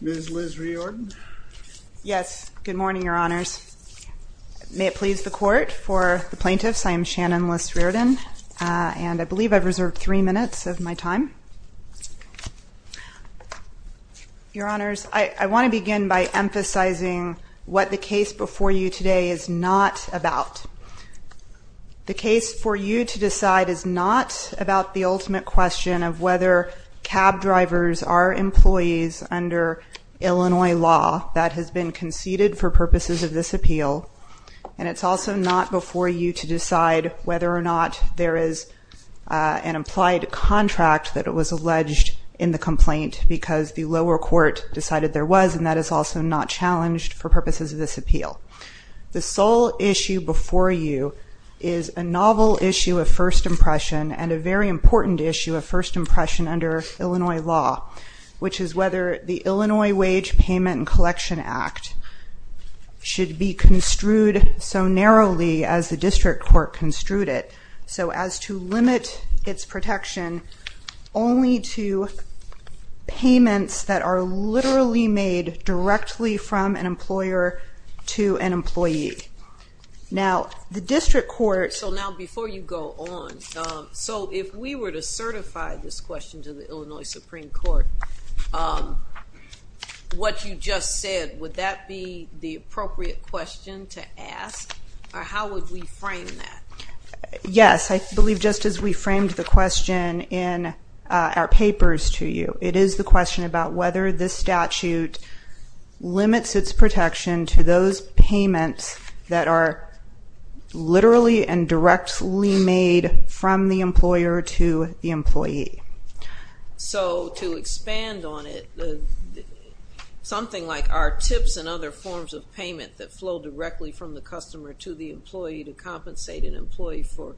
Ms. Liz Riordan May it please the Court, for the Plaintiffs, I am Shannon Liz Riordan and I believe I've reserved three minutes of my time. Your Honors, I want to begin by emphasizing what the case before you today is not about. The case for you to decide is not about the ultimate question of whether cab drivers are employees under Illinois law that has been conceded for purposes of this appeal and it's also not before you to decide whether or not there is an implied contract that was alleged in the complaint because the lower court decided there was and that is also not challenged for purposes of this appeal. The sole issue before you is a novel issue of first impression and a very important issue of first impression under Illinois law, which is whether the Illinois Wage Payment and Collection Act should be construed so narrowly as the district court construed it. So as to limit its protection only to payments that are literally made directly from an employer to an employee. Now the district court... So now before you go on, so if we were to certify this question to the Illinois Supreme Court, what you just said, would that be the appropriate question to ask or how would we frame that? Yes, I believe just as we framed the question in our papers to you. It is the question about whether this statute limits its protection to those payments that are literally and directly made from the employer to the employee. So, to expand on it, something like, are tips and other forms of payment that flow directly from the customer to the employee to compensate an employee for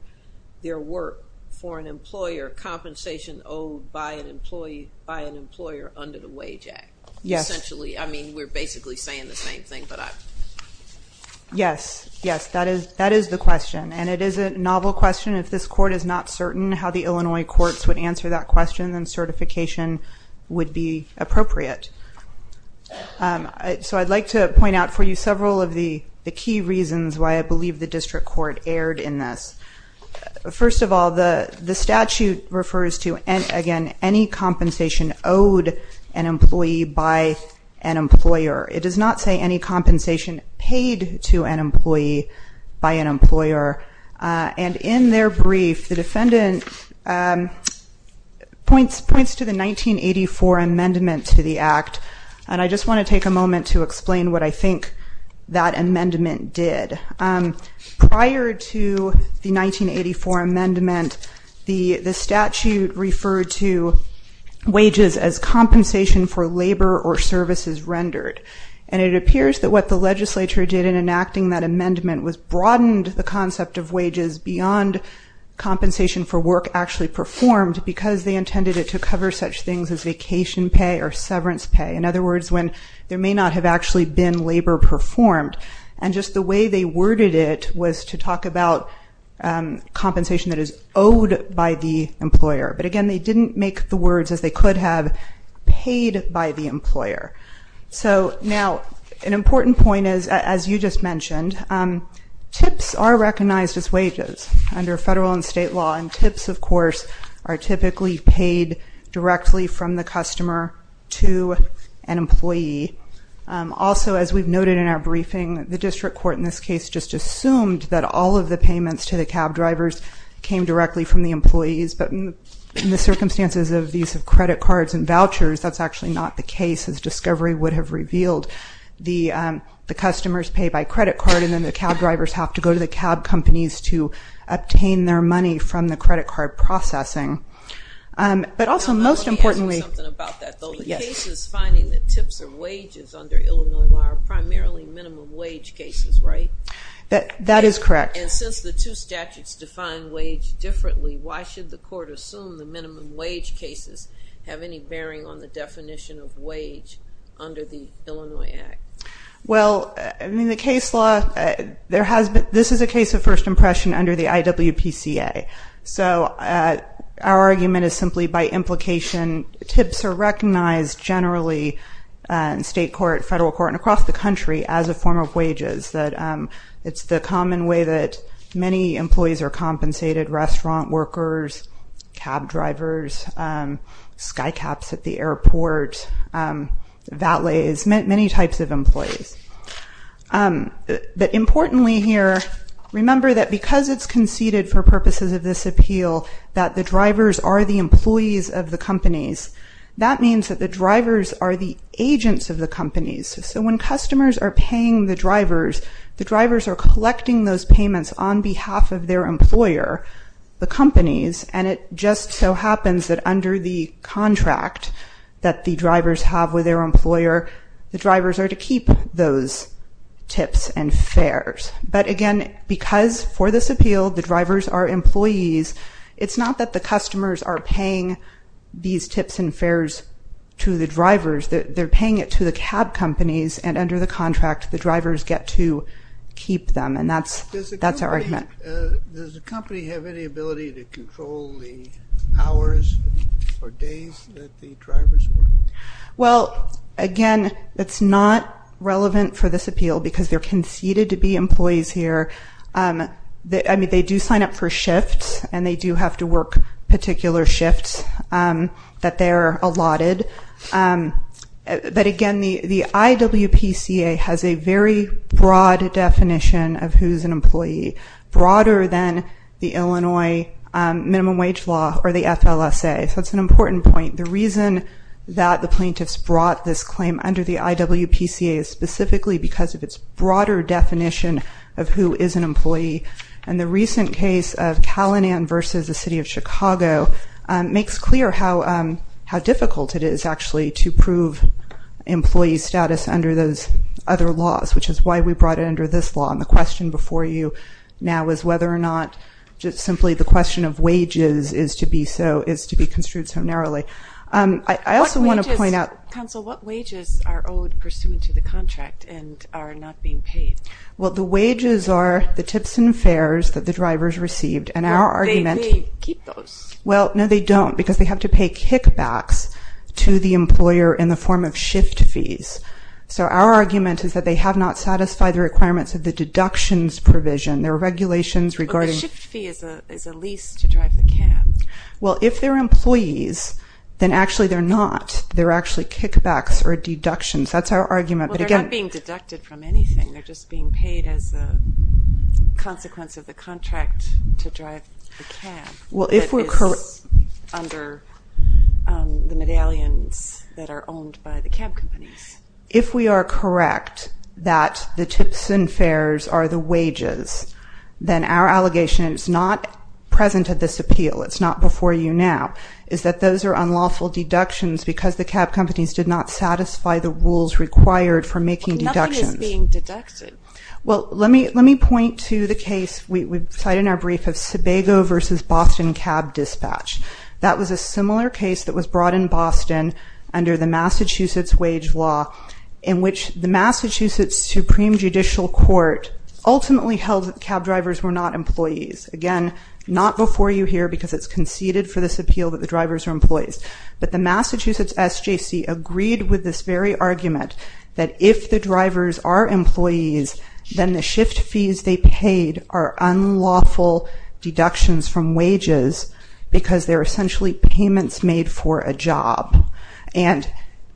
their work for an employer, compensation owed by an employer under the Wage Act? Yes. Essentially, I mean, we're basically saying the same thing, but I... Yes, yes, that is the question and it is a novel question. If this court is not certain how the Illinois courts would answer that question, then certification would be appropriate. So I'd like to point out for you several of the key reasons why I believe the district court erred in this. First of all, the statute refers to, again, any compensation owed an employee by an employer. It does not say any compensation paid to an employee by an employer. And in their brief, the defendant points to the 1984 amendment to the act. And I just want to take a moment to explain what I think that amendment did. Prior to the 1984 amendment, the statute referred to wages as compensation for labor or services rendered. And it appears that what the legislature did in enacting that amendment was broadened the concept of wages beyond compensation for work actually performed because they intended it to cover such things as vacation pay or severance pay. In other words, when there may not have actually been labor performed. And just the way they worded it was to talk about compensation that is owed by the employer. But again, they didn't make the words as they could have paid by the employer. So now, an important point is, as you just mentioned, tips are recognized as wages under federal and state law. And tips, of course, are typically paid directly from the customer to an employee. Also, as we've noted in our briefing, the district court in this case just assumed that all of the payments to the cab drivers came directly from the employees. But in the circumstances of the use of credit cards and vouchers, that's actually not the case. The discovery would have revealed the customers pay by credit card, and then the cab drivers have to go to the cab companies to obtain their money from the credit card processing. But also, most importantly- Now, let me ask you something about that, though. Yes. The cases finding that tips are wages under Illinois law are primarily minimum wage cases, right? That is correct. And since the two statutes define wage differently, why should the court assume the minimum wage cases have any bearing on the definition of wage under the Illinois Act? Well, in the case law, this is a case of first impression under the IWPCA. So our argument is simply by implication, tips are recognized generally in state court, federal court, and across the country as a form of wages. It's the common way that many employees are compensated, restaurant workers, cab drivers, skycaps at the airport, valets, many types of employees. But importantly here, remember that because it's conceded for purposes of this appeal that the drivers are the employees of the companies, that means that the drivers are the agents of the companies. So when customers are paying the drivers, the drivers are collecting those payments on behalf of their employer, the companies, and it just so happens that under the contract that the drivers have with their employer, the drivers are to keep those tips and fares. But again, because for this appeal, the drivers are employees, it's not that the customers are paying these tips and fares to the drivers, they're paying it to the cab companies, and under the contract, the drivers get to keep them, and that's our argument. Does the company have any ability to control the hours or days that the drivers work? Well, again, it's not relevant for this appeal because they're conceded to be employees here. I mean, they do sign up for shifts, and they do have to work particular shifts that they're allotted. But again, the IWPCA has a very broad definition of who's an employee, broader than the Illinois Minimum Wage Law or the FLSA, so it's an important point. The reason that the plaintiffs brought this claim under the IWPCA is specifically because of its broader definition of who is an employee, and the recent case of Calinan versus the City of Chicago makes clear how difficult it is, actually, to prove employee status under those other laws, which is why we brought it under this law, and the question before you now is whether or not just simply the question of wages is to be construed so narrowly. I also want to point out... Counsel, what wages are owed pursuant to the contract and are not being paid? Well, the wages are the tips and fares that the drivers received, and our argument... Do they keep those? Well, no, they don't, because they have to pay kickbacks to the employer in the form of shift fees. So our argument is that they have not satisfied the requirements of the deductions provision. There are regulations regarding... But the shift fee is a lease to drive the cab. Well, if they're employees, then actually they're not. They're actually kickbacks or deductions. That's our argument, but again... Well, they're not being deducted from anything. They're just being paid as a consequence of the contract to drive the cab that is under the medallions that are owned by the cab companies. If we are correct that the tips and fares are the wages, then our allegation is not present at this appeal. It's not before you now, is that those are unlawful deductions because the cab companies did not satisfy the rules required for making deductions. Nothing is being deducted. Well, let me point to the case we cite in our brief of Sebago v. Boston Cab Dispatch. That was a similar case that was brought in Boston under the Massachusetts wage law, in which the Massachusetts Supreme Judicial Court ultimately held that cab drivers were not employees. Again, not before you here because it's conceded for this appeal that the drivers are employees. But the Massachusetts SJC agreed with this very argument that if the drivers are employees, then the shift fees they paid are unlawful deductions from wages because they're essentially payments made for a job. And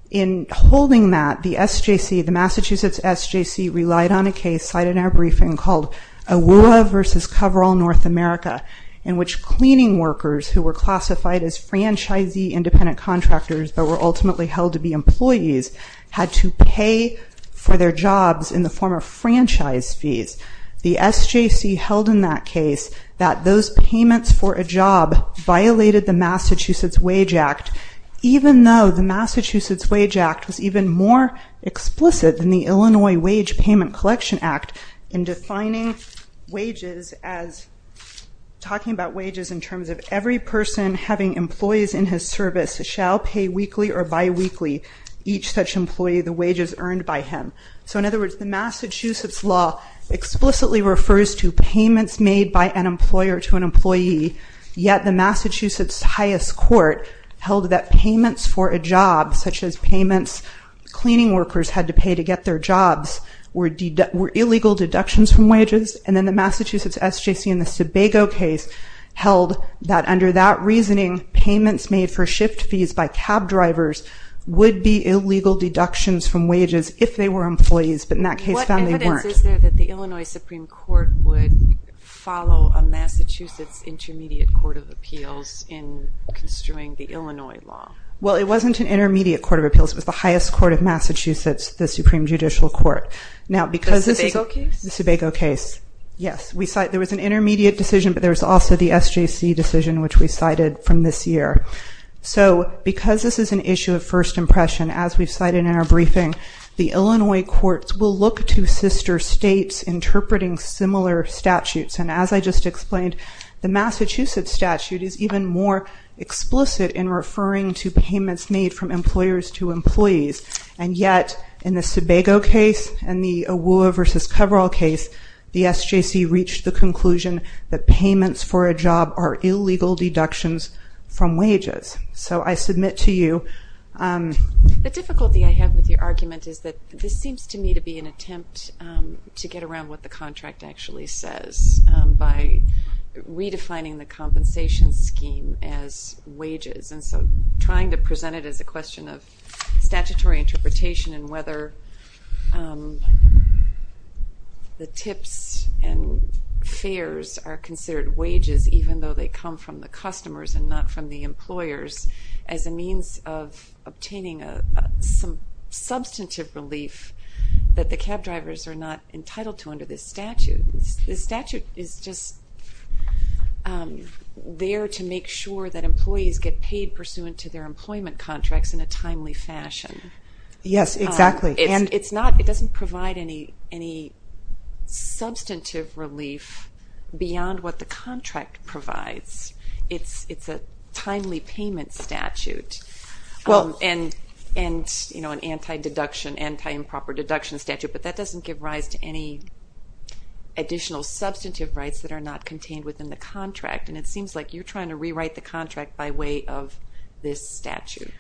in holding that, the SJC, the Massachusetts SJC, relied on a case cited in our briefing called AWUA v. Coverall North America, in which cleaning workers who were classified as franchisee independent contractors, but were ultimately held to be employees, had to pay for their jobs in the form of franchise fees. The SJC held in that case that those payments for a job violated the Massachusetts Wage Act, even though the Massachusetts Wage Act was even more explicit than the Illinois Wage Payment Collection Act in defining wages as, talking about wages in terms of every person having employees in his service shall pay weekly or biweekly each such employee the wages earned by him. So in other words, the Massachusetts law explicitly refers to payments made by an employer to an employee, yet the Massachusetts highest court held that payments for a job, such as payments cleaning workers had to pay to get their jobs, were illegal deductions from wages. And then the Massachusetts SJC in the Sebago case held that under that reasoning, payments made for shift fees by cab drivers would be illegal deductions from wages if they were employees. But in that case, found they weren't. Is there that the Illinois Supreme Court would follow a Massachusetts Intermediate Court of Appeals in construing the Illinois law? Well, it wasn't an Intermediate Court of Appeals. It was the highest court of Massachusetts, the Supreme Judicial Court. Now, because this is a case, the Sebago case, yes, we cite there was an intermediate decision, but there was also the SJC decision, which we cited from this year. So because this is an issue of first impression, as we've cited in our briefing, the Illinois courts will look to sister states interpreting similar statutes. And as I just explained, the Massachusetts statute is even more explicit in referring to payments made from employers to employees. And yet, in the Sebago case and the Awuah versus Coverall case, the SJC reached the conclusion that payments for a job are illegal deductions from wages. So I submit to you. The difficulty I have with your argument is that this seems to me to be an attempt to get around what the contract actually says by redefining the compensation scheme as wages. And so trying to present it as a question of statutory interpretation and whether the tips and considered wages, even though they come from the customers and not from the employers, as a means of obtaining some substantive relief that the cab drivers are not entitled to under this statute. This statute is just there to make sure that employees get paid pursuant to their employment contracts in a timely fashion. Yes, exactly. And it's not, it doesn't provide any substantive relief beyond what the contract provides. It's a timely payment statute and an anti-deduction, anti-improper deduction statute. But that doesn't give rise to any additional substantive rights that are not contained within the contract. And it seems like you're trying to rewrite the contract by way of this statute.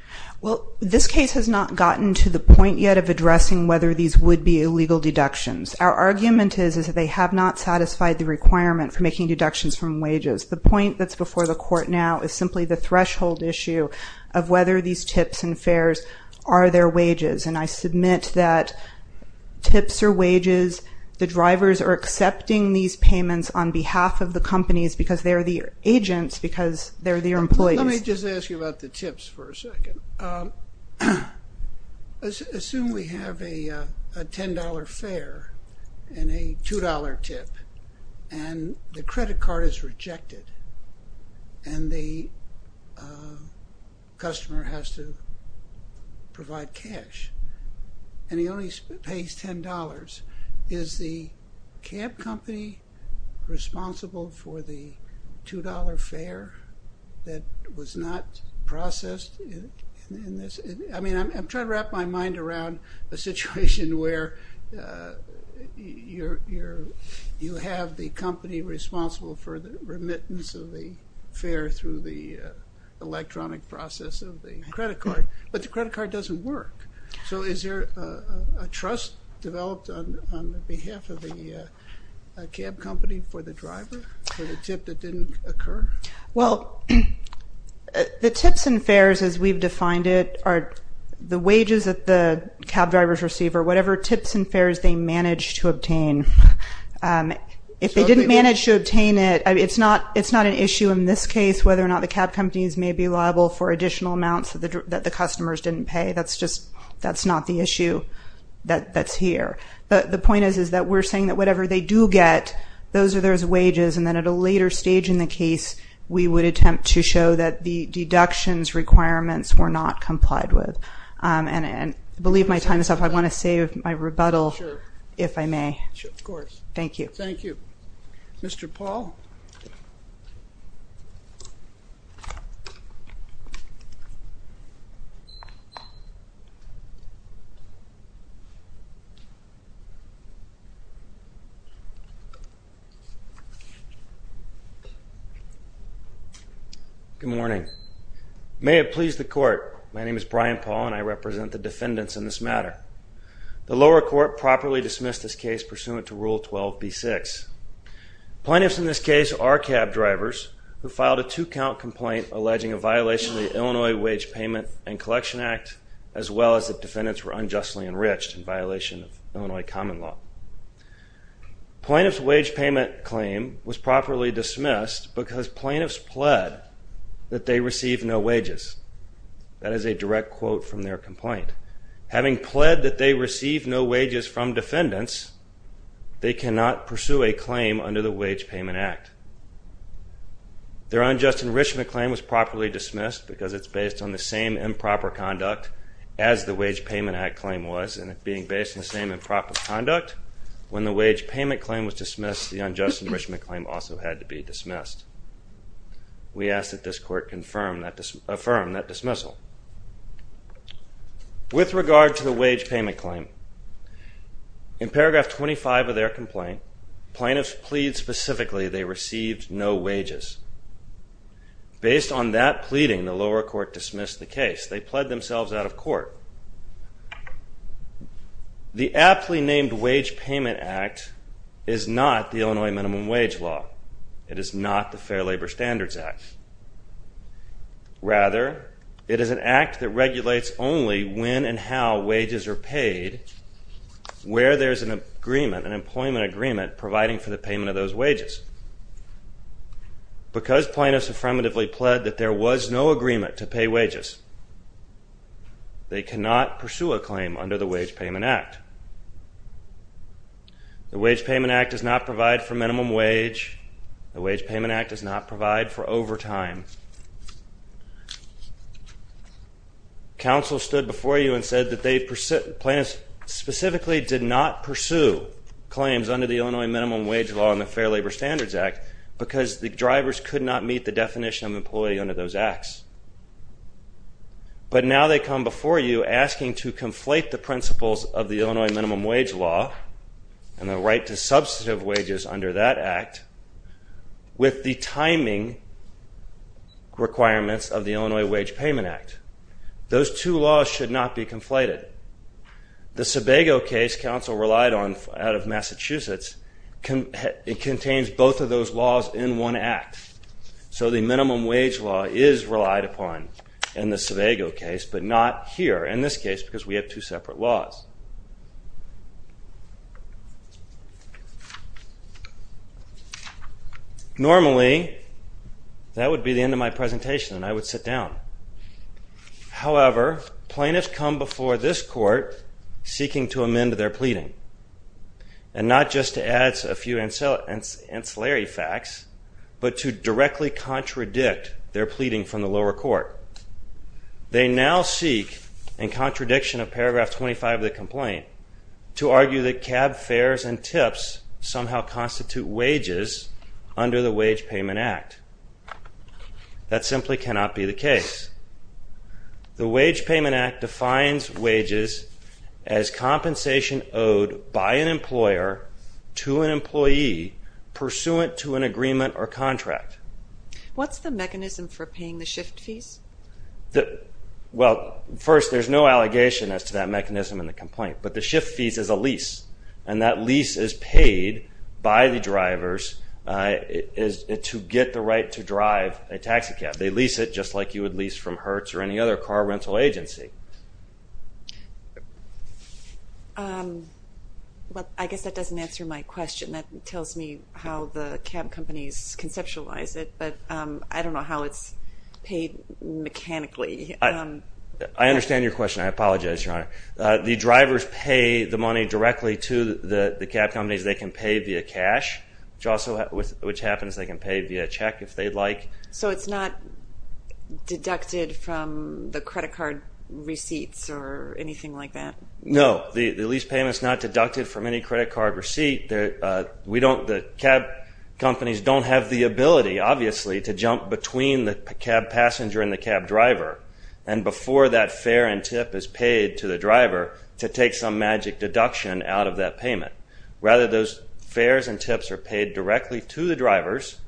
Well, this case has not gotten to the point yet of addressing whether these would be illegal deductions. Our argument is that they have not satisfied the requirement for making deductions from wages. The point that's before the court now is simply the threshold issue of whether these tips and fares are their wages. And I submit that tips are wages. The drivers are accepting these payments on behalf of the companies because they're the agents, because they're the employees. Let me just ask you about the tips for a second. Assume we have a $10 fare and a $2 tip. And the credit card is rejected and the customer has to provide cash. And he only pays $10. Is the cab company responsible for the $2 fare that was not processed in this? I mean, I'm trying to wrap my mind around a situation where you have the company responsible for the remittance of the fare through the electronic process of the credit card. But the credit card doesn't work. So is there a trust developed on behalf of the cab company for the driver for the tip that didn't occur? Well, the tips and fares, as we've defined it, are the wages that the cab drivers receive or whatever tips and fares they manage to obtain. If they didn't manage to obtain it, it's not an issue in this case whether or not the cab companies may be liable for additional amounts that the customers didn't pay. That's not the issue that's here. But the point is that we're saying that whatever they do get, those are their wages. And then at a later stage in the case, we would attempt to show that the deductions requirements were not complied with. And I believe my time is up. I want to save my rebuttal if I may. Of course. Thank you. Thank you. Mr. Paul? Good morning. May it please the court. My name is Brian Paul and I represent the defendants in this matter. The lower court properly dismissed this case pursuant to Rule 12B6. Plaintiffs in this case are cab drivers who filed a two count complaint alleging a violation of the Illinois Wage Payment and as well as the defendants were unjustly enriched in violation of Illinois common law. Plaintiff's wage payment claim was properly dismissed because plaintiffs pled that they receive no wages. That is a direct quote from their complaint. Having pled that they receive no wages from defendants, they cannot pursue a claim under the Wage Payment Act. Their unjust enrichment claim was properly dismissed because it's based on the same improper conduct as the Wage Payment Act claim was. And it being based on the same improper conduct, when the wage payment claim was dismissed, the unjust enrichment claim also had to be dismissed. We ask that this court affirm that dismissal. With regard to the wage payment claim, in paragraph 25 of their complaint, plaintiffs plead specifically they received no wages. Based on that pleading, the lower court dismissed the case. They pled themselves out of court. The aptly named Wage Payment Act is not the Illinois minimum wage law. It is not the Fair Labor Standards Act. Rather, it is an act that regulates only when and how wages are paid, where there's an agreement, an employment agreement, providing for the payment of those wages. Because plaintiffs affirmatively pled that there was no agreement to pay wages, they cannot pursue a claim under the Wage Payment Act. The Wage Payment Act does not provide for minimum wage. The Wage Payment Act does not provide for overtime. Counsel stood before you and said that they, plaintiffs specifically did not pursue claims under the Illinois minimum wage law and the Fair Labor Standards Act because the drivers could not meet the definition of employee under those acts. But now they come before you asking to conflate the principles of the Illinois minimum wage law and the right to substantive wages under that act with the timing requirements of the Illinois Wage Payment Act. Those two laws should not be conflated. The Sebago case counsel relied on out of Massachusetts, it contains both of those laws in one act. So the minimum wage law is relied upon in the Sebago case, but not here, in this case, because we have two separate laws. Normally, that would be the end of my presentation and I would sit down. However, plaintiffs come before this court seeking to amend their pleading and not just to add a few ancillary facts, but to directly contradict their pleading from the lower court. They now seek, in contradiction of paragraph 25 of the complaint, to argue that cab fares and tips somehow constitute wages under the Wage Payment Act. That simply cannot be the case. The Wage Payment Act defines wages as compensation owed by an employer to an employee pursuant to an agreement or contract. What's the mechanism for paying the shift fees? Well, first, there's no allegation as to that mechanism in the complaint, but the shift fees is a lease, and that lease is paid by the drivers to get the right to drive a taxi cab. They lease it just like you would lease from Hertz or any other car rental agency. Well, I guess that doesn't answer my question. That tells me how the cab companies conceptualize it, but I don't know how it's paid mechanically. I understand your question. I apologize, Your Honor. The drivers pay the money directly to the cab companies. They can pay via cash, which happens they can pay via check if they'd like. So it's not deducted from the credit card receipts or anything like that? No. The lease payment is not deducted from any credit card receipt. The cab companies don't have the ability, obviously, to jump between the cab passenger and the cab driver. And before that fare and tip is paid to the driver to take some magic deduction out of that payment. Rather, those fares and tips are paid directly to the drivers.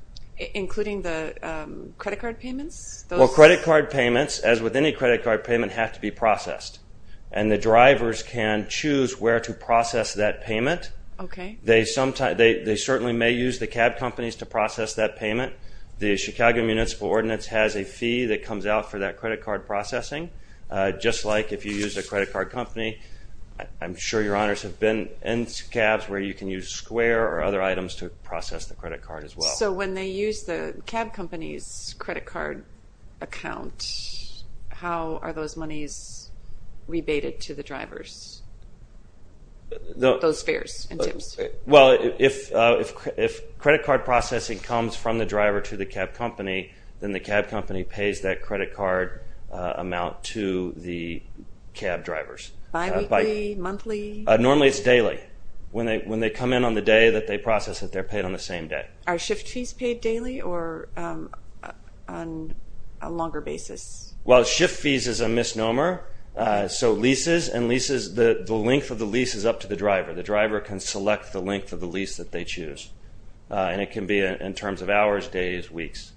Including the credit card payments? Well, credit card payments, as with any credit card payment, have to be processed. And the drivers can choose where to process that payment. They certainly may use the cab companies to process that payment. The Chicago Municipal Ordinance has a fee that comes out for that credit card processing. Just like if you use a credit card company, I'm sure Your Honors have been in cabs where you can use Square or other items to process the credit card as well. So when they use the cab company's credit card account, how are those monies rebated to the drivers? Those fares and tips? Well, if credit card processing comes from the driver to the cab company, then the cab company pays that credit card amount to the cab drivers. Bi-weekly? Monthly? Normally, it's daily. When they come in on the day that they process it, they're paid on the same day. Are shift fees paid daily or on a longer basis? Well, shift fees is a misnomer. So leases and leases, the length of the lease is up to the driver. The driver can select the length of the lease that they choose. And it can be in terms of hours, days, weeks.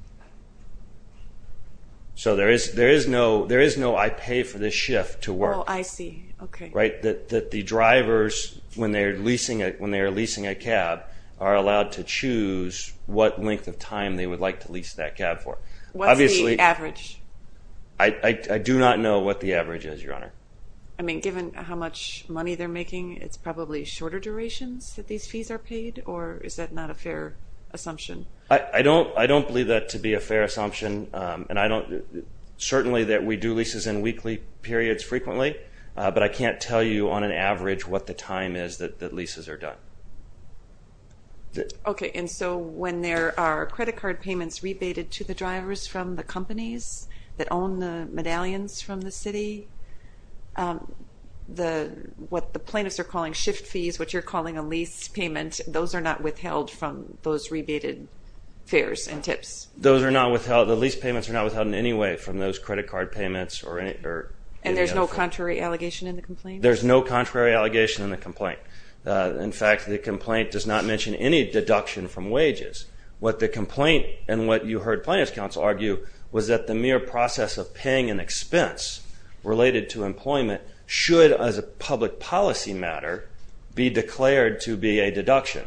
So there is no I pay for this shift to work. Oh, I see. Okay. That the drivers, when they're leasing a cab, are allowed to choose what length of time they would like to lease that cab for. What's the average? I do not know what the average is, Your Honor. I mean, given how much money they're making, it's probably shorter durations that these fees are paid? Or is that not a fair assumption? I don't believe that to be a fair assumption. And certainly that we do leases in weekly periods frequently, but I can't tell you on an average what the time is that leases are done. Okay. And so when there are credit card payments rebated to the drivers from the companies that own the medallions from the city, what the plaintiffs are calling shift fees, what you're calling a lease payment, those are not withheld from those rebated fares and tips? Those are not withheld. The lease payments are not withheld in any way from those credit card payments or any other. And there's no contrary allegation in the complaint? There's no contrary allegation in the complaint. In fact, the complaint does not mention any deduction from wages. What the complaint and what you heard Plaintiff's Counsel argue was that the mere process of paying an expense related to employment should, as a public policy matter, be declared to be a deduction.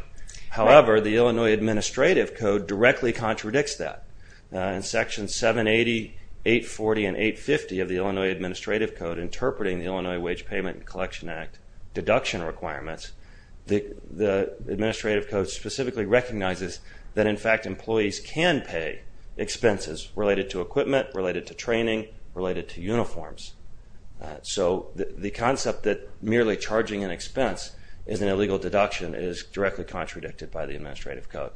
However, the Illinois Administrative Code directly contradicts that. In Section 780, 840, and 850 of the Illinois Administrative Code interpreting the Illinois Wage Payment and Collection Act deduction requirements, the Administrative Code specifically recognizes that, in fact, employees can pay expenses related to equipment, related to training, related to uniforms. So the concept that merely charging an expense is an illegal deduction is directly contradicted by the Administrative Code.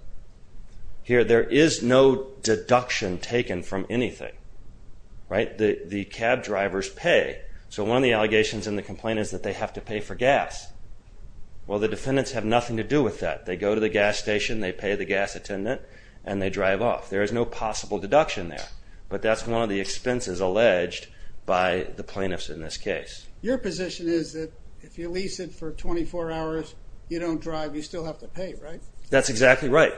Here, there is no deduction taken from anything, right? The cab drivers pay. So one of the allegations in the complaint is that they have to pay for gas. Well, the defendants have nothing to do with that. They go to the gas station, they pay the gas attendant, and they drive off. There is no possible deduction there. But that's one of the expenses alleged by the plaintiffs in this case. Your position is that if you lease it for 24 hours, you don't drive, you still have to pay, right? That's exactly right.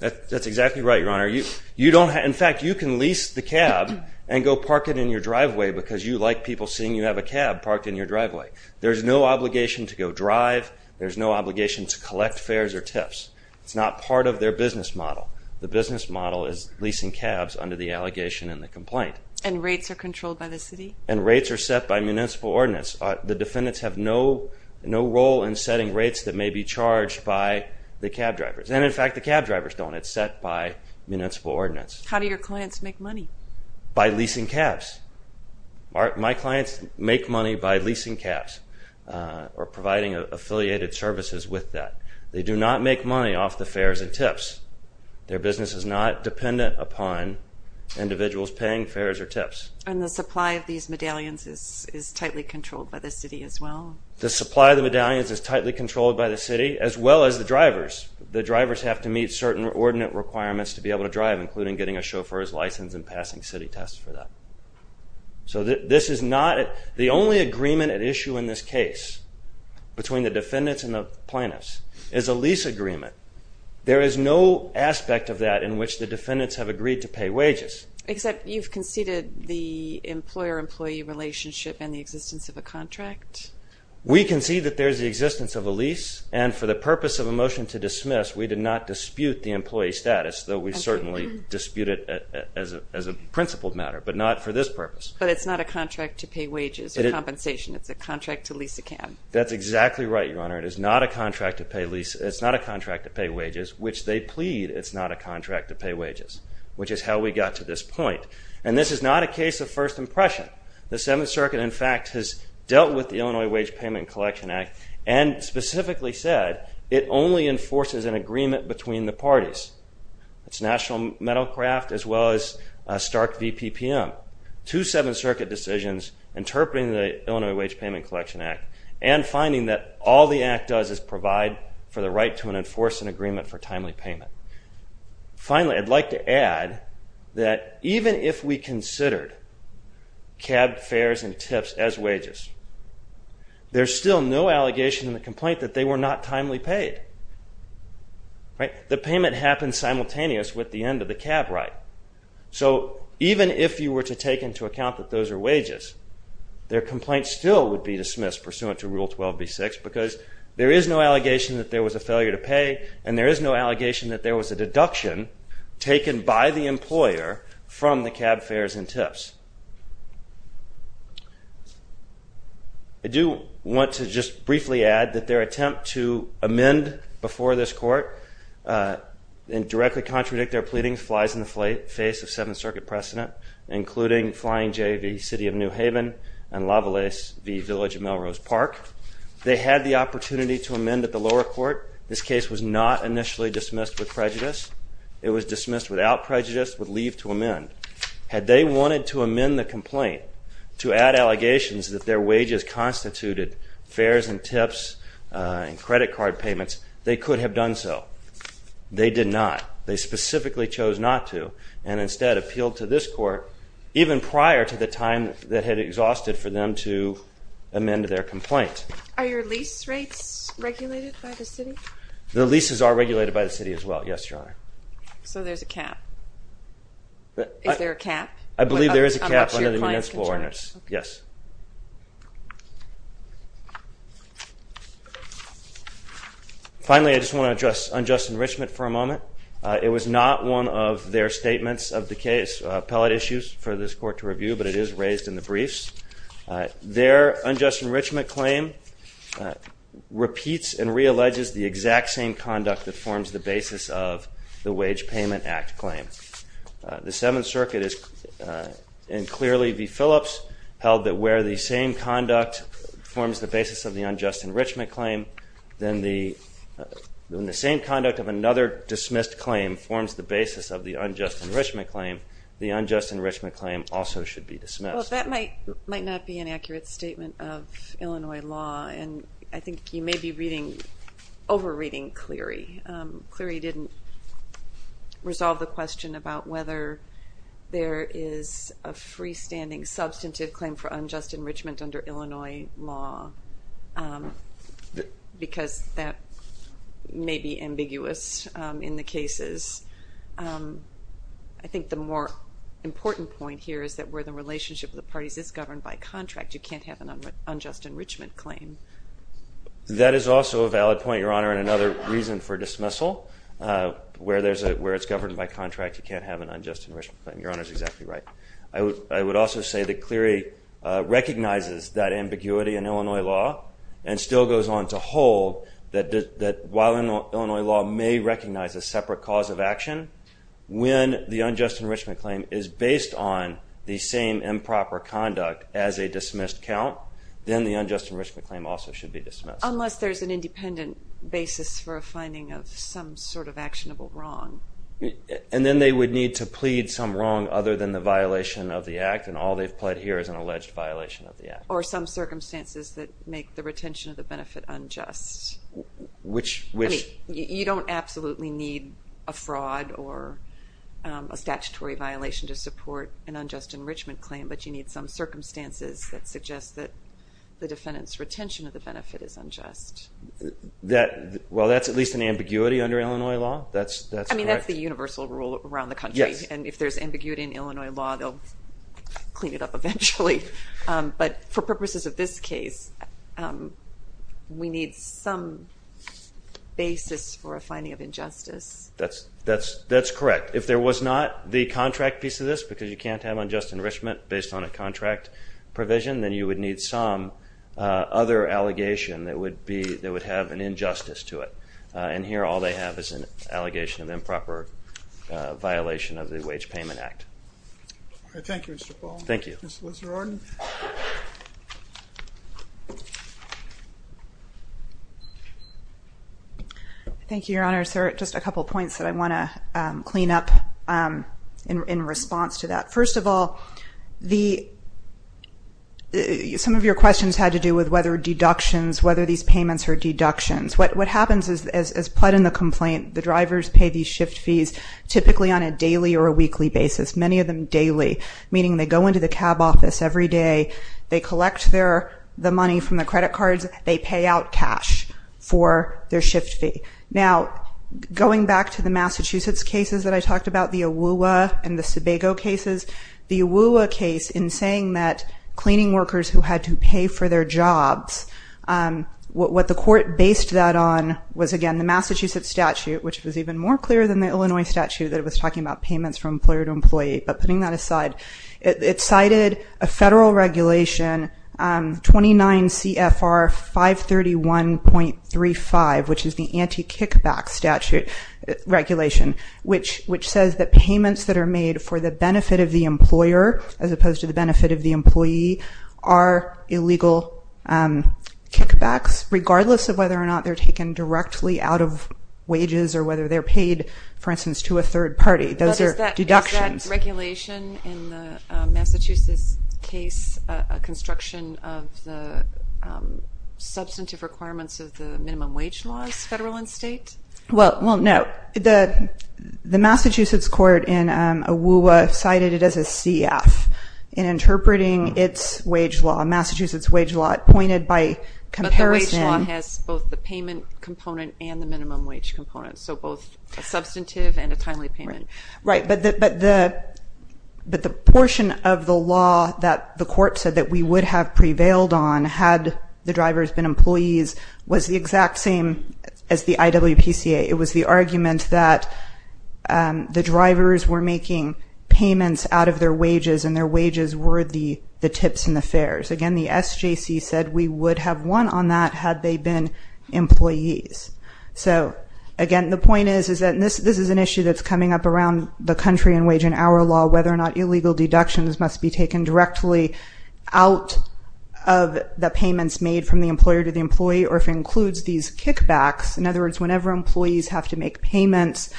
That's exactly right, Your Honor. In fact, you can lease the cab and go park it in your driveway because you like people seeing you have a cab parked in your driveway. There's no obligation to go drive. There's no obligation to collect fares or tips. It's not part of their business model. The business model is leasing cabs under the allegation in the complaint. And rates are controlled by the city? And rates are set by municipal ordinance. The defendants have no role in setting rates that may be charged by the cab drivers. And in fact, the cab drivers don't. It's set by municipal ordinance. How do your clients make money? By leasing cabs. My clients make money by leasing cabs or providing affiliated services with that. They do not make money off the fares and tips. Their business is not dependent upon individuals paying fares or tips. And the supply of these medallions is tightly controlled by the city as well? The supply of the medallions is tightly controlled by the city as well as the drivers. The drivers have to meet certain ordinate requirements to be able to drive, including getting a chauffeur's license and passing city tests for that. So this is not the only agreement at issue in this case between the defendants and the plaintiffs is a lease agreement. There is no aspect of that in which the defendants have agreed to pay wages. Except you've conceded the employer-employee relationship and the existence of a contract? We concede that there's the existence of a lease. And for the purpose of a motion to dismiss, we did not dispute the employee status, though we certainly dispute it as a principled matter, but not for this purpose. But it's not a contract to pay wages or compensation. It's a contract to lease a cab. That's exactly right, Your Honor. It is not a contract to pay wages, which they plead it's not a contract to pay wages, which is how we got to this point. And this is not a case of first impression. The Seventh Circuit, in fact, has dealt with the Illinois Wage Payment Collection Act and specifically said it only enforces an agreement between the parties. It's National Metalcraft as well as Stark VPPM. Two Seventh Circuit decisions interpreting the Illinois Wage Payment Collection Act and finding that all the act does is provide for the right to enforce an agreement for timely payment. Finally, I'd like to add that even if we considered cab fares and tips as wages, there's still no allegation in the complaint that they were not timely paid, right? The payment happened simultaneous with the end of the cab right. So even if you were to take into account that those are wages, their complaint still would be dismissed pursuant to Rule 12b-6 because there is no allegation that there was a failure to pay and there is no allegation that there was a deduction taken by the employer from the cab fares and tips. I do want to just briefly add that their attempt to amend before this court and directly contradict their pleading flies in the face of Seventh Circuit precedent, including Flying J.V. City of New Haven and Lavalaise V. Village of Melrose Park. They had the opportunity to amend at the lower court. This case was not initially dismissed with prejudice. It was dismissed without prejudice with leave to amend. Had they wanted to amend the complaint to add allegations that their wages constituted fares and tips and credit card payments, they could have done so. They did not. They specifically chose not to and instead appealed to this court even prior to the time that had exhausted for them to amend their complaint. Are your lease rates regulated by the city? The leases are regulated by the city as well, yes, Your Honor. So there's a cap? Is there a cap? I believe there is a cap under the municipal ordinance. Yes. Finally, I just want to address unjust enrichment for a moment. It was not one of their statements of the case. Appellate issues for this court to review, but it is raised in the briefs. Their unjust enrichment claim repeats and re-alleges the exact same conduct that forms the basis of the Wage Payment Act claim. The Seventh Circuit is, and clearly v. Phillips, held that where the same conduct forms the basis of the unjust enrichment claim, then the same conduct of another dismissed claim forms the basis of the unjust enrichment claim. The unjust enrichment claim also should be dismissed. Well, that might not be an accurate statement of Illinois law, and I think you may be reading, over-reading Cleary. Cleary didn't resolve the question about whether there is a freestanding substantive claim for unjust enrichment under Illinois law, because that may be ambiguous in the cases. I think the more important point here is that where the relationship of the parties is governed by contract, you can't have an unjust enrichment claim. That is also a valid point, Your Honor, and another reason for dismissal. Where it's governed by contract, you can't have an unjust enrichment claim. Your Honor is exactly right. I would also say that Cleary recognizes that ambiguity in Illinois law and still goes on to hold that while Illinois law may recognize a separate cause of action, when the unjust enrichment claim is the same improper conduct as a dismissed count, then the unjust enrichment claim also should be dismissed. Unless there's an independent basis for a finding of some sort of actionable wrong. And then they would need to plead some wrong other than the violation of the act, and all they've pled here is an alleged violation of the act. Or some circumstances that make the retention of the benefit unjust. Which... I mean, you don't absolutely need a fraud or a statutory violation to support an unjust enrichment claim, but you need some circumstances that suggest that the defendant's retention of the benefit is unjust. That... Well, that's at least an ambiguity under Illinois law. That's correct. I mean, that's the universal rule around the country. Yes. And if there's ambiguity in Illinois law, they'll clean it up eventually. But for purposes of this case, we need some basis for a finding of injustice. That's correct. If there was not the contract piece of this, because you can't have unjust enrichment based on a contract provision, then you would need some other allegation that would be... That would have an injustice to it. And here all they have is an allegation of improper violation of the Wage Payment Act. Thank you, Mr. Paul. Thank you. Thank you, Your Honor. Is there just a couple of points that I want to clean up in response to that? First of all, some of your questions had to do with whether deductions, whether these payments are deductions. What happens is, as put in the complaint, the drivers pay these shift fees typically on a daily or a weekly basis, many of them daily, meaning they go into the cab office every day. They collect the money from the credit cards. They pay out cash for their shift fee. Now, going back to the Massachusetts cases that I talked about, the AWUA and the Sebago cases, the AWUA case in saying that cleaning workers who had to pay for their jobs, what the court based that on was, again, the Massachusetts statute, which was even more clear than the Illinois statute that it was talking about payments from employer to employee. But putting that aside, it cited a federal regulation, 29 CFR 531.35, which is the anti-kickback statute regulation, which says that payments that are made for the benefit of the employer as opposed to the benefit of the employee are illegal kickbacks, regardless of whether or not they're taken directly out of wages or whether they're paid, for instance, to a third party. Those are deductions. Is that regulation in the Massachusetts case a construction of the substantive requirements of the minimum wage laws, federal and state? Well, no. The Massachusetts court in AWUA cited it as a CF in interpreting its wage law, Massachusetts wage law, pointed by comparison. But the wage law has both the payment component and the minimum wage component, so both a substantive and a timely payment. Right. But the portion of the law that the court said that we would have prevailed on had the drivers been employees was the exact same as the IWPCA. It was the argument that the drivers were making payments out of their wages and their wages were the tips and the fares. Again, the SJC said we would have won on that had they been employees. So, again, the point is that this is an issue that's coming up around the country in wage and hour law, whether or not illegal deductions must be taken directly out of the payments made from the employer to the employee or if it includes these kickbacks. In other words, whenever employees have to make payments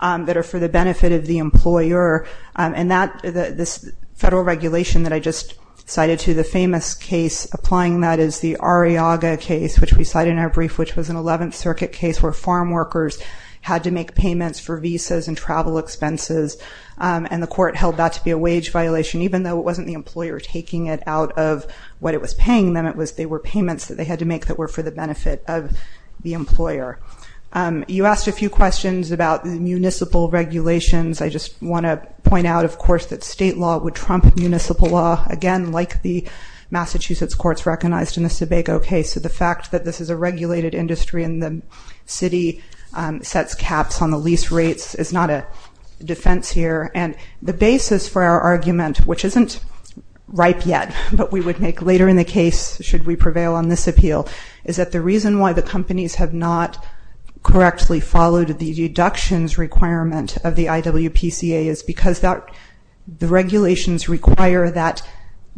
that are for the benefit of the employer and that this federal regulation that I just cited to the famous case applying that is the Arriaga case, which we cite in our brief, which was an 11th Circuit case where farm workers had to make payments for visas and travel expenses and the court held that to be a wage violation, even though it wasn't the employer taking it out of what it was paying them. It was they were payments that they had to make that were for the benefit of the employer. You asked a few questions about the municipal regulations. I just want to point out, of course, that state law would trump municipal law, again, like the Massachusetts courts recognized in the Sebago case. So the fact that this is a regulated industry and the city sets caps on the lease rates is not a defense here. And the basis for our argument, which isn't ripe yet, but we would make later in the case, should we prevail on this appeal, is that the reason why the companies have not correctly followed the deductions requirement of the IWPCA is because the regulations require that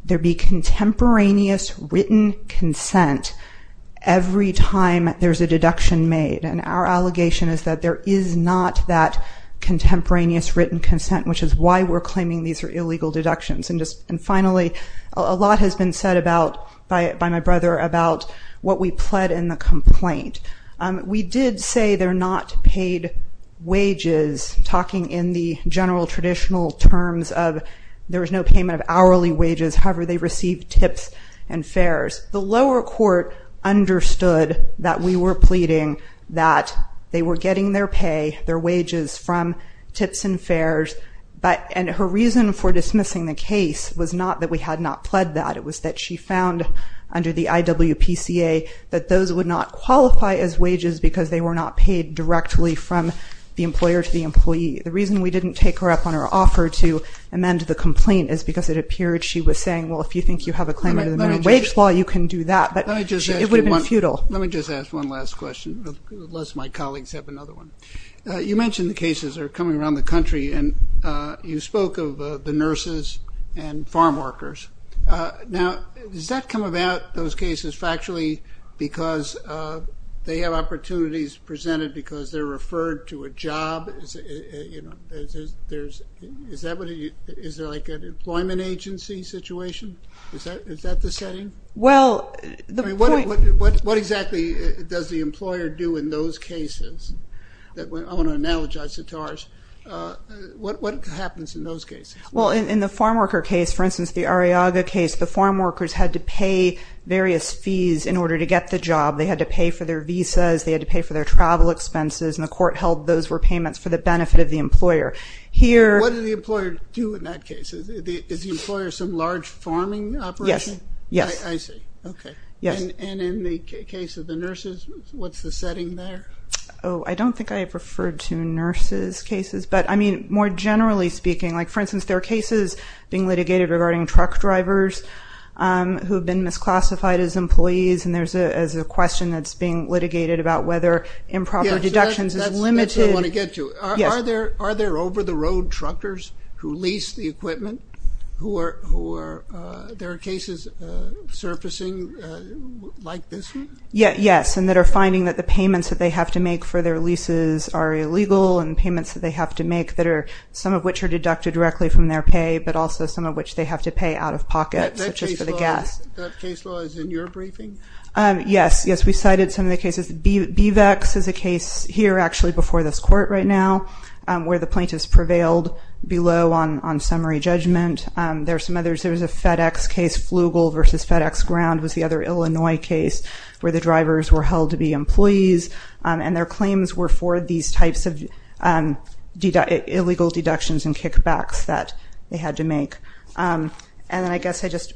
there be contemporaneous written consent every time there's a deduction made. And our allegation is that there is not that contemporaneous written consent, which is why we're claiming these are illegal deductions. And finally, a lot has been said about, by my brother, about what we pled in the complaint. We did say they're not paid wages, talking in the general traditional terms of there was no payment of hourly wages. However, they received tips and fares. The lower court understood that we were pleading that they were getting their pay, their wages, from tips and fares. But, and her reason for dismissing the case was not that we had not pled that. It was that she found under the IWPCA that those would not qualify as wages because they were not paid directly from the employer to the employee. The reason we didn't take her up on her offer to amend the complaint is because it appeared she was saying, well, if you think you have a claim under the minimum wage law, you can do that. But it would have been futile. Let me just ask one last question, unless my colleagues have another one. You mentioned the cases are coming around the country, and you spoke of the nurses and farm workers. Now, does that come about, those cases, factually, because they have opportunities presented because they're referred to a job? Is there like an employment agency situation? Is that the setting? Well, the point- I mean, what exactly does the employer do in those cases? I want to analogize it to ours. What happens in those cases? Well, in the farm worker case, for instance, the Arriaga case, the farm workers had to pay various fees in order to get the job. They had to pay for their visas. They had to pay for their travel expenses. And the court held those were payments for the benefit of the employer. Here- What did the employer do in that case? Is the employer some large farming operation? Yes. Yes. I see. OK. Yes. And in the case of the nurses, what's the setting there? Oh, I don't think I have referred to nurses' cases. But I mean, more generally speaking, like, for instance, there are cases being litigated regarding truck drivers who have been misclassified as employees. And there's a question that's being litigated about whether improper deductions is limited- That's what I want to get to. Yes. Are there over-the-road truckers who lease the equipment who are- there are cases surfacing like this one? Yes. And that are finding that the payments that they have to make for their leases are illegal and payments that they have to make that are- some of which are deducted directly from their pay, but also some of which they have to pay out-of-pocket, such as for the gas. That case law is in your briefing? Yes. Yes. We cited some of the cases. BVEX is a case here, actually, before this court right now, where the plaintiff's prevailed below on summary judgment. There are some others. There was a FedEx case. Flugel versus FedEx Ground was the other Illinois case, where the drivers were held to be employees. And their claims were for these types of illegal deductions and kickbacks that they had to make. And then I guess I just-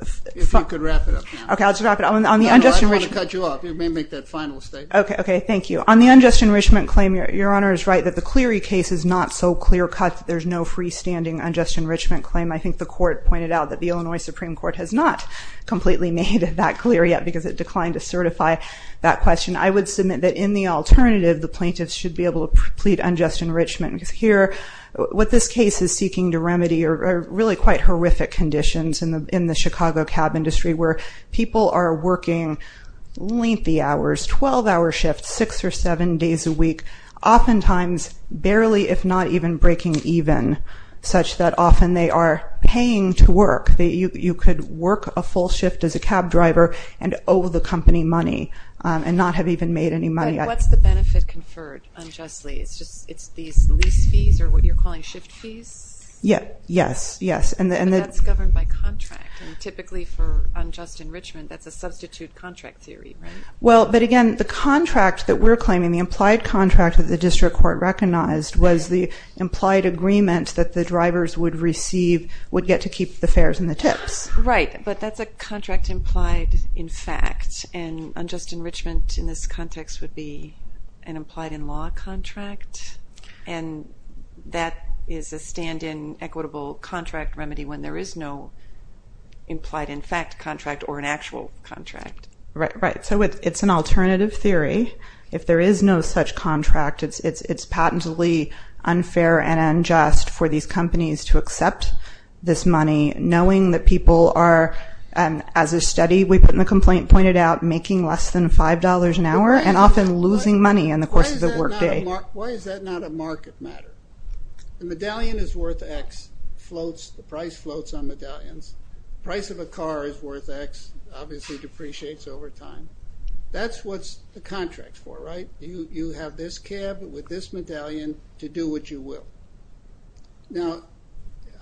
If you could wrap it up now. OK, I'll just wrap it up. On the unjustified- No, no, I don't want to cut you off. You may make that final statement. OK, OK. Thank you. On the unjust enrichment claim, Your Honor is right that the Cleary case is not so clear cut that there's no freestanding unjust enrichment claim. I think the court pointed out that the Illinois Supreme Court has not completely made that clear yet, because it declined to certify that question. I would submit that in the alternative, the plaintiffs should be able to plead unjust enrichment. Because here, what this case is seeking to remedy are really quite horrific conditions in the Chicago cab industry, where people are working lengthy hours, 12-hour shifts, six or seven days a week, oftentimes barely, if not even breaking even, such that often they are paying to work. You could work a full shift as a cab driver and owe the company money and not have even made any money. What's the benefit conferred unjustly? It's these lease fees, or what you're calling shift fees? Yeah, yes, yes. And that's governed by contract. Typically for unjust enrichment, that's a substitute contract theory, right? Well, but again, the contract that we're claiming, the implied contract that the district court recognized, was the implied agreement that the drivers would receive, would get to keep the fares and the tips. Right, but that's a contract implied in fact. And unjust enrichment in this context would be an implied in law contract. And that is a stand-in equitable contract remedy when there is no implied in fact contract or an actual contract. Right, right. So it's an alternative theory. If there is no such contract, it's patently unfair and unjust for these companies to accept this money, knowing that people are, as a study we put in the complaint, pointed out, making less than $5 an hour and often losing money in the course of the workday. Why is that not a market matter? The medallion is worth x, the price floats on medallions. Price of a car is worth x, obviously depreciates over time. That's what's the contract for, right? You have this cab with this medallion to do what you will. Now,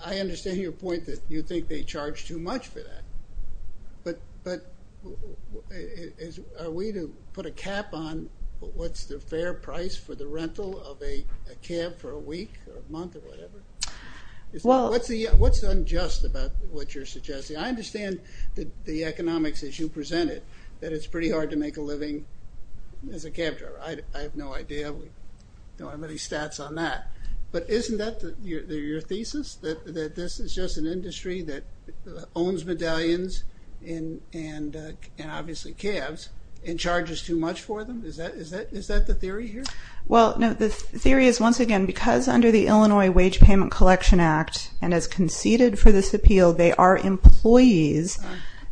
I understand your point that you think they charge too much for that. But are we to put a cap on what's the fair price for the rental of a cab for a week or a month or whatever? What's unjust about what you're suggesting? I understand the economics as you present it, that it's pretty hard to make a living as a cab driver. I have no idea. We don't have any stats on that. But isn't that your thesis, that this is just an industry that owns medallions and obviously cabs and charges too much for them? Is that the theory here? Well, no. The theory is, once again, because under the Illinois Wage Payment Collection Act, and as conceded for this appeal, they are employees.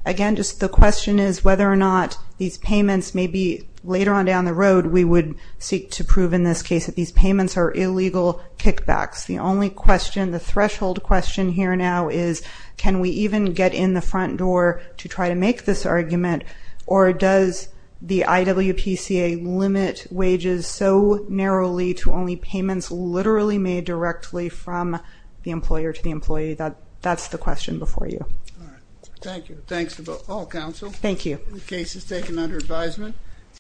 Again, just the question is whether or not these payments may be, later on down the road, we would seek to prove in this case that these payments are illegal kickbacks. The only question, the threshold question here now is, can we even get in the front door to try to make this argument? Or does the IWPCA limit wages so narrowly to only payments literally made directly from the employer to the employee? That's the question before you. Thank you. Thanks to all counsel. Thank you. The case is taken under advisement.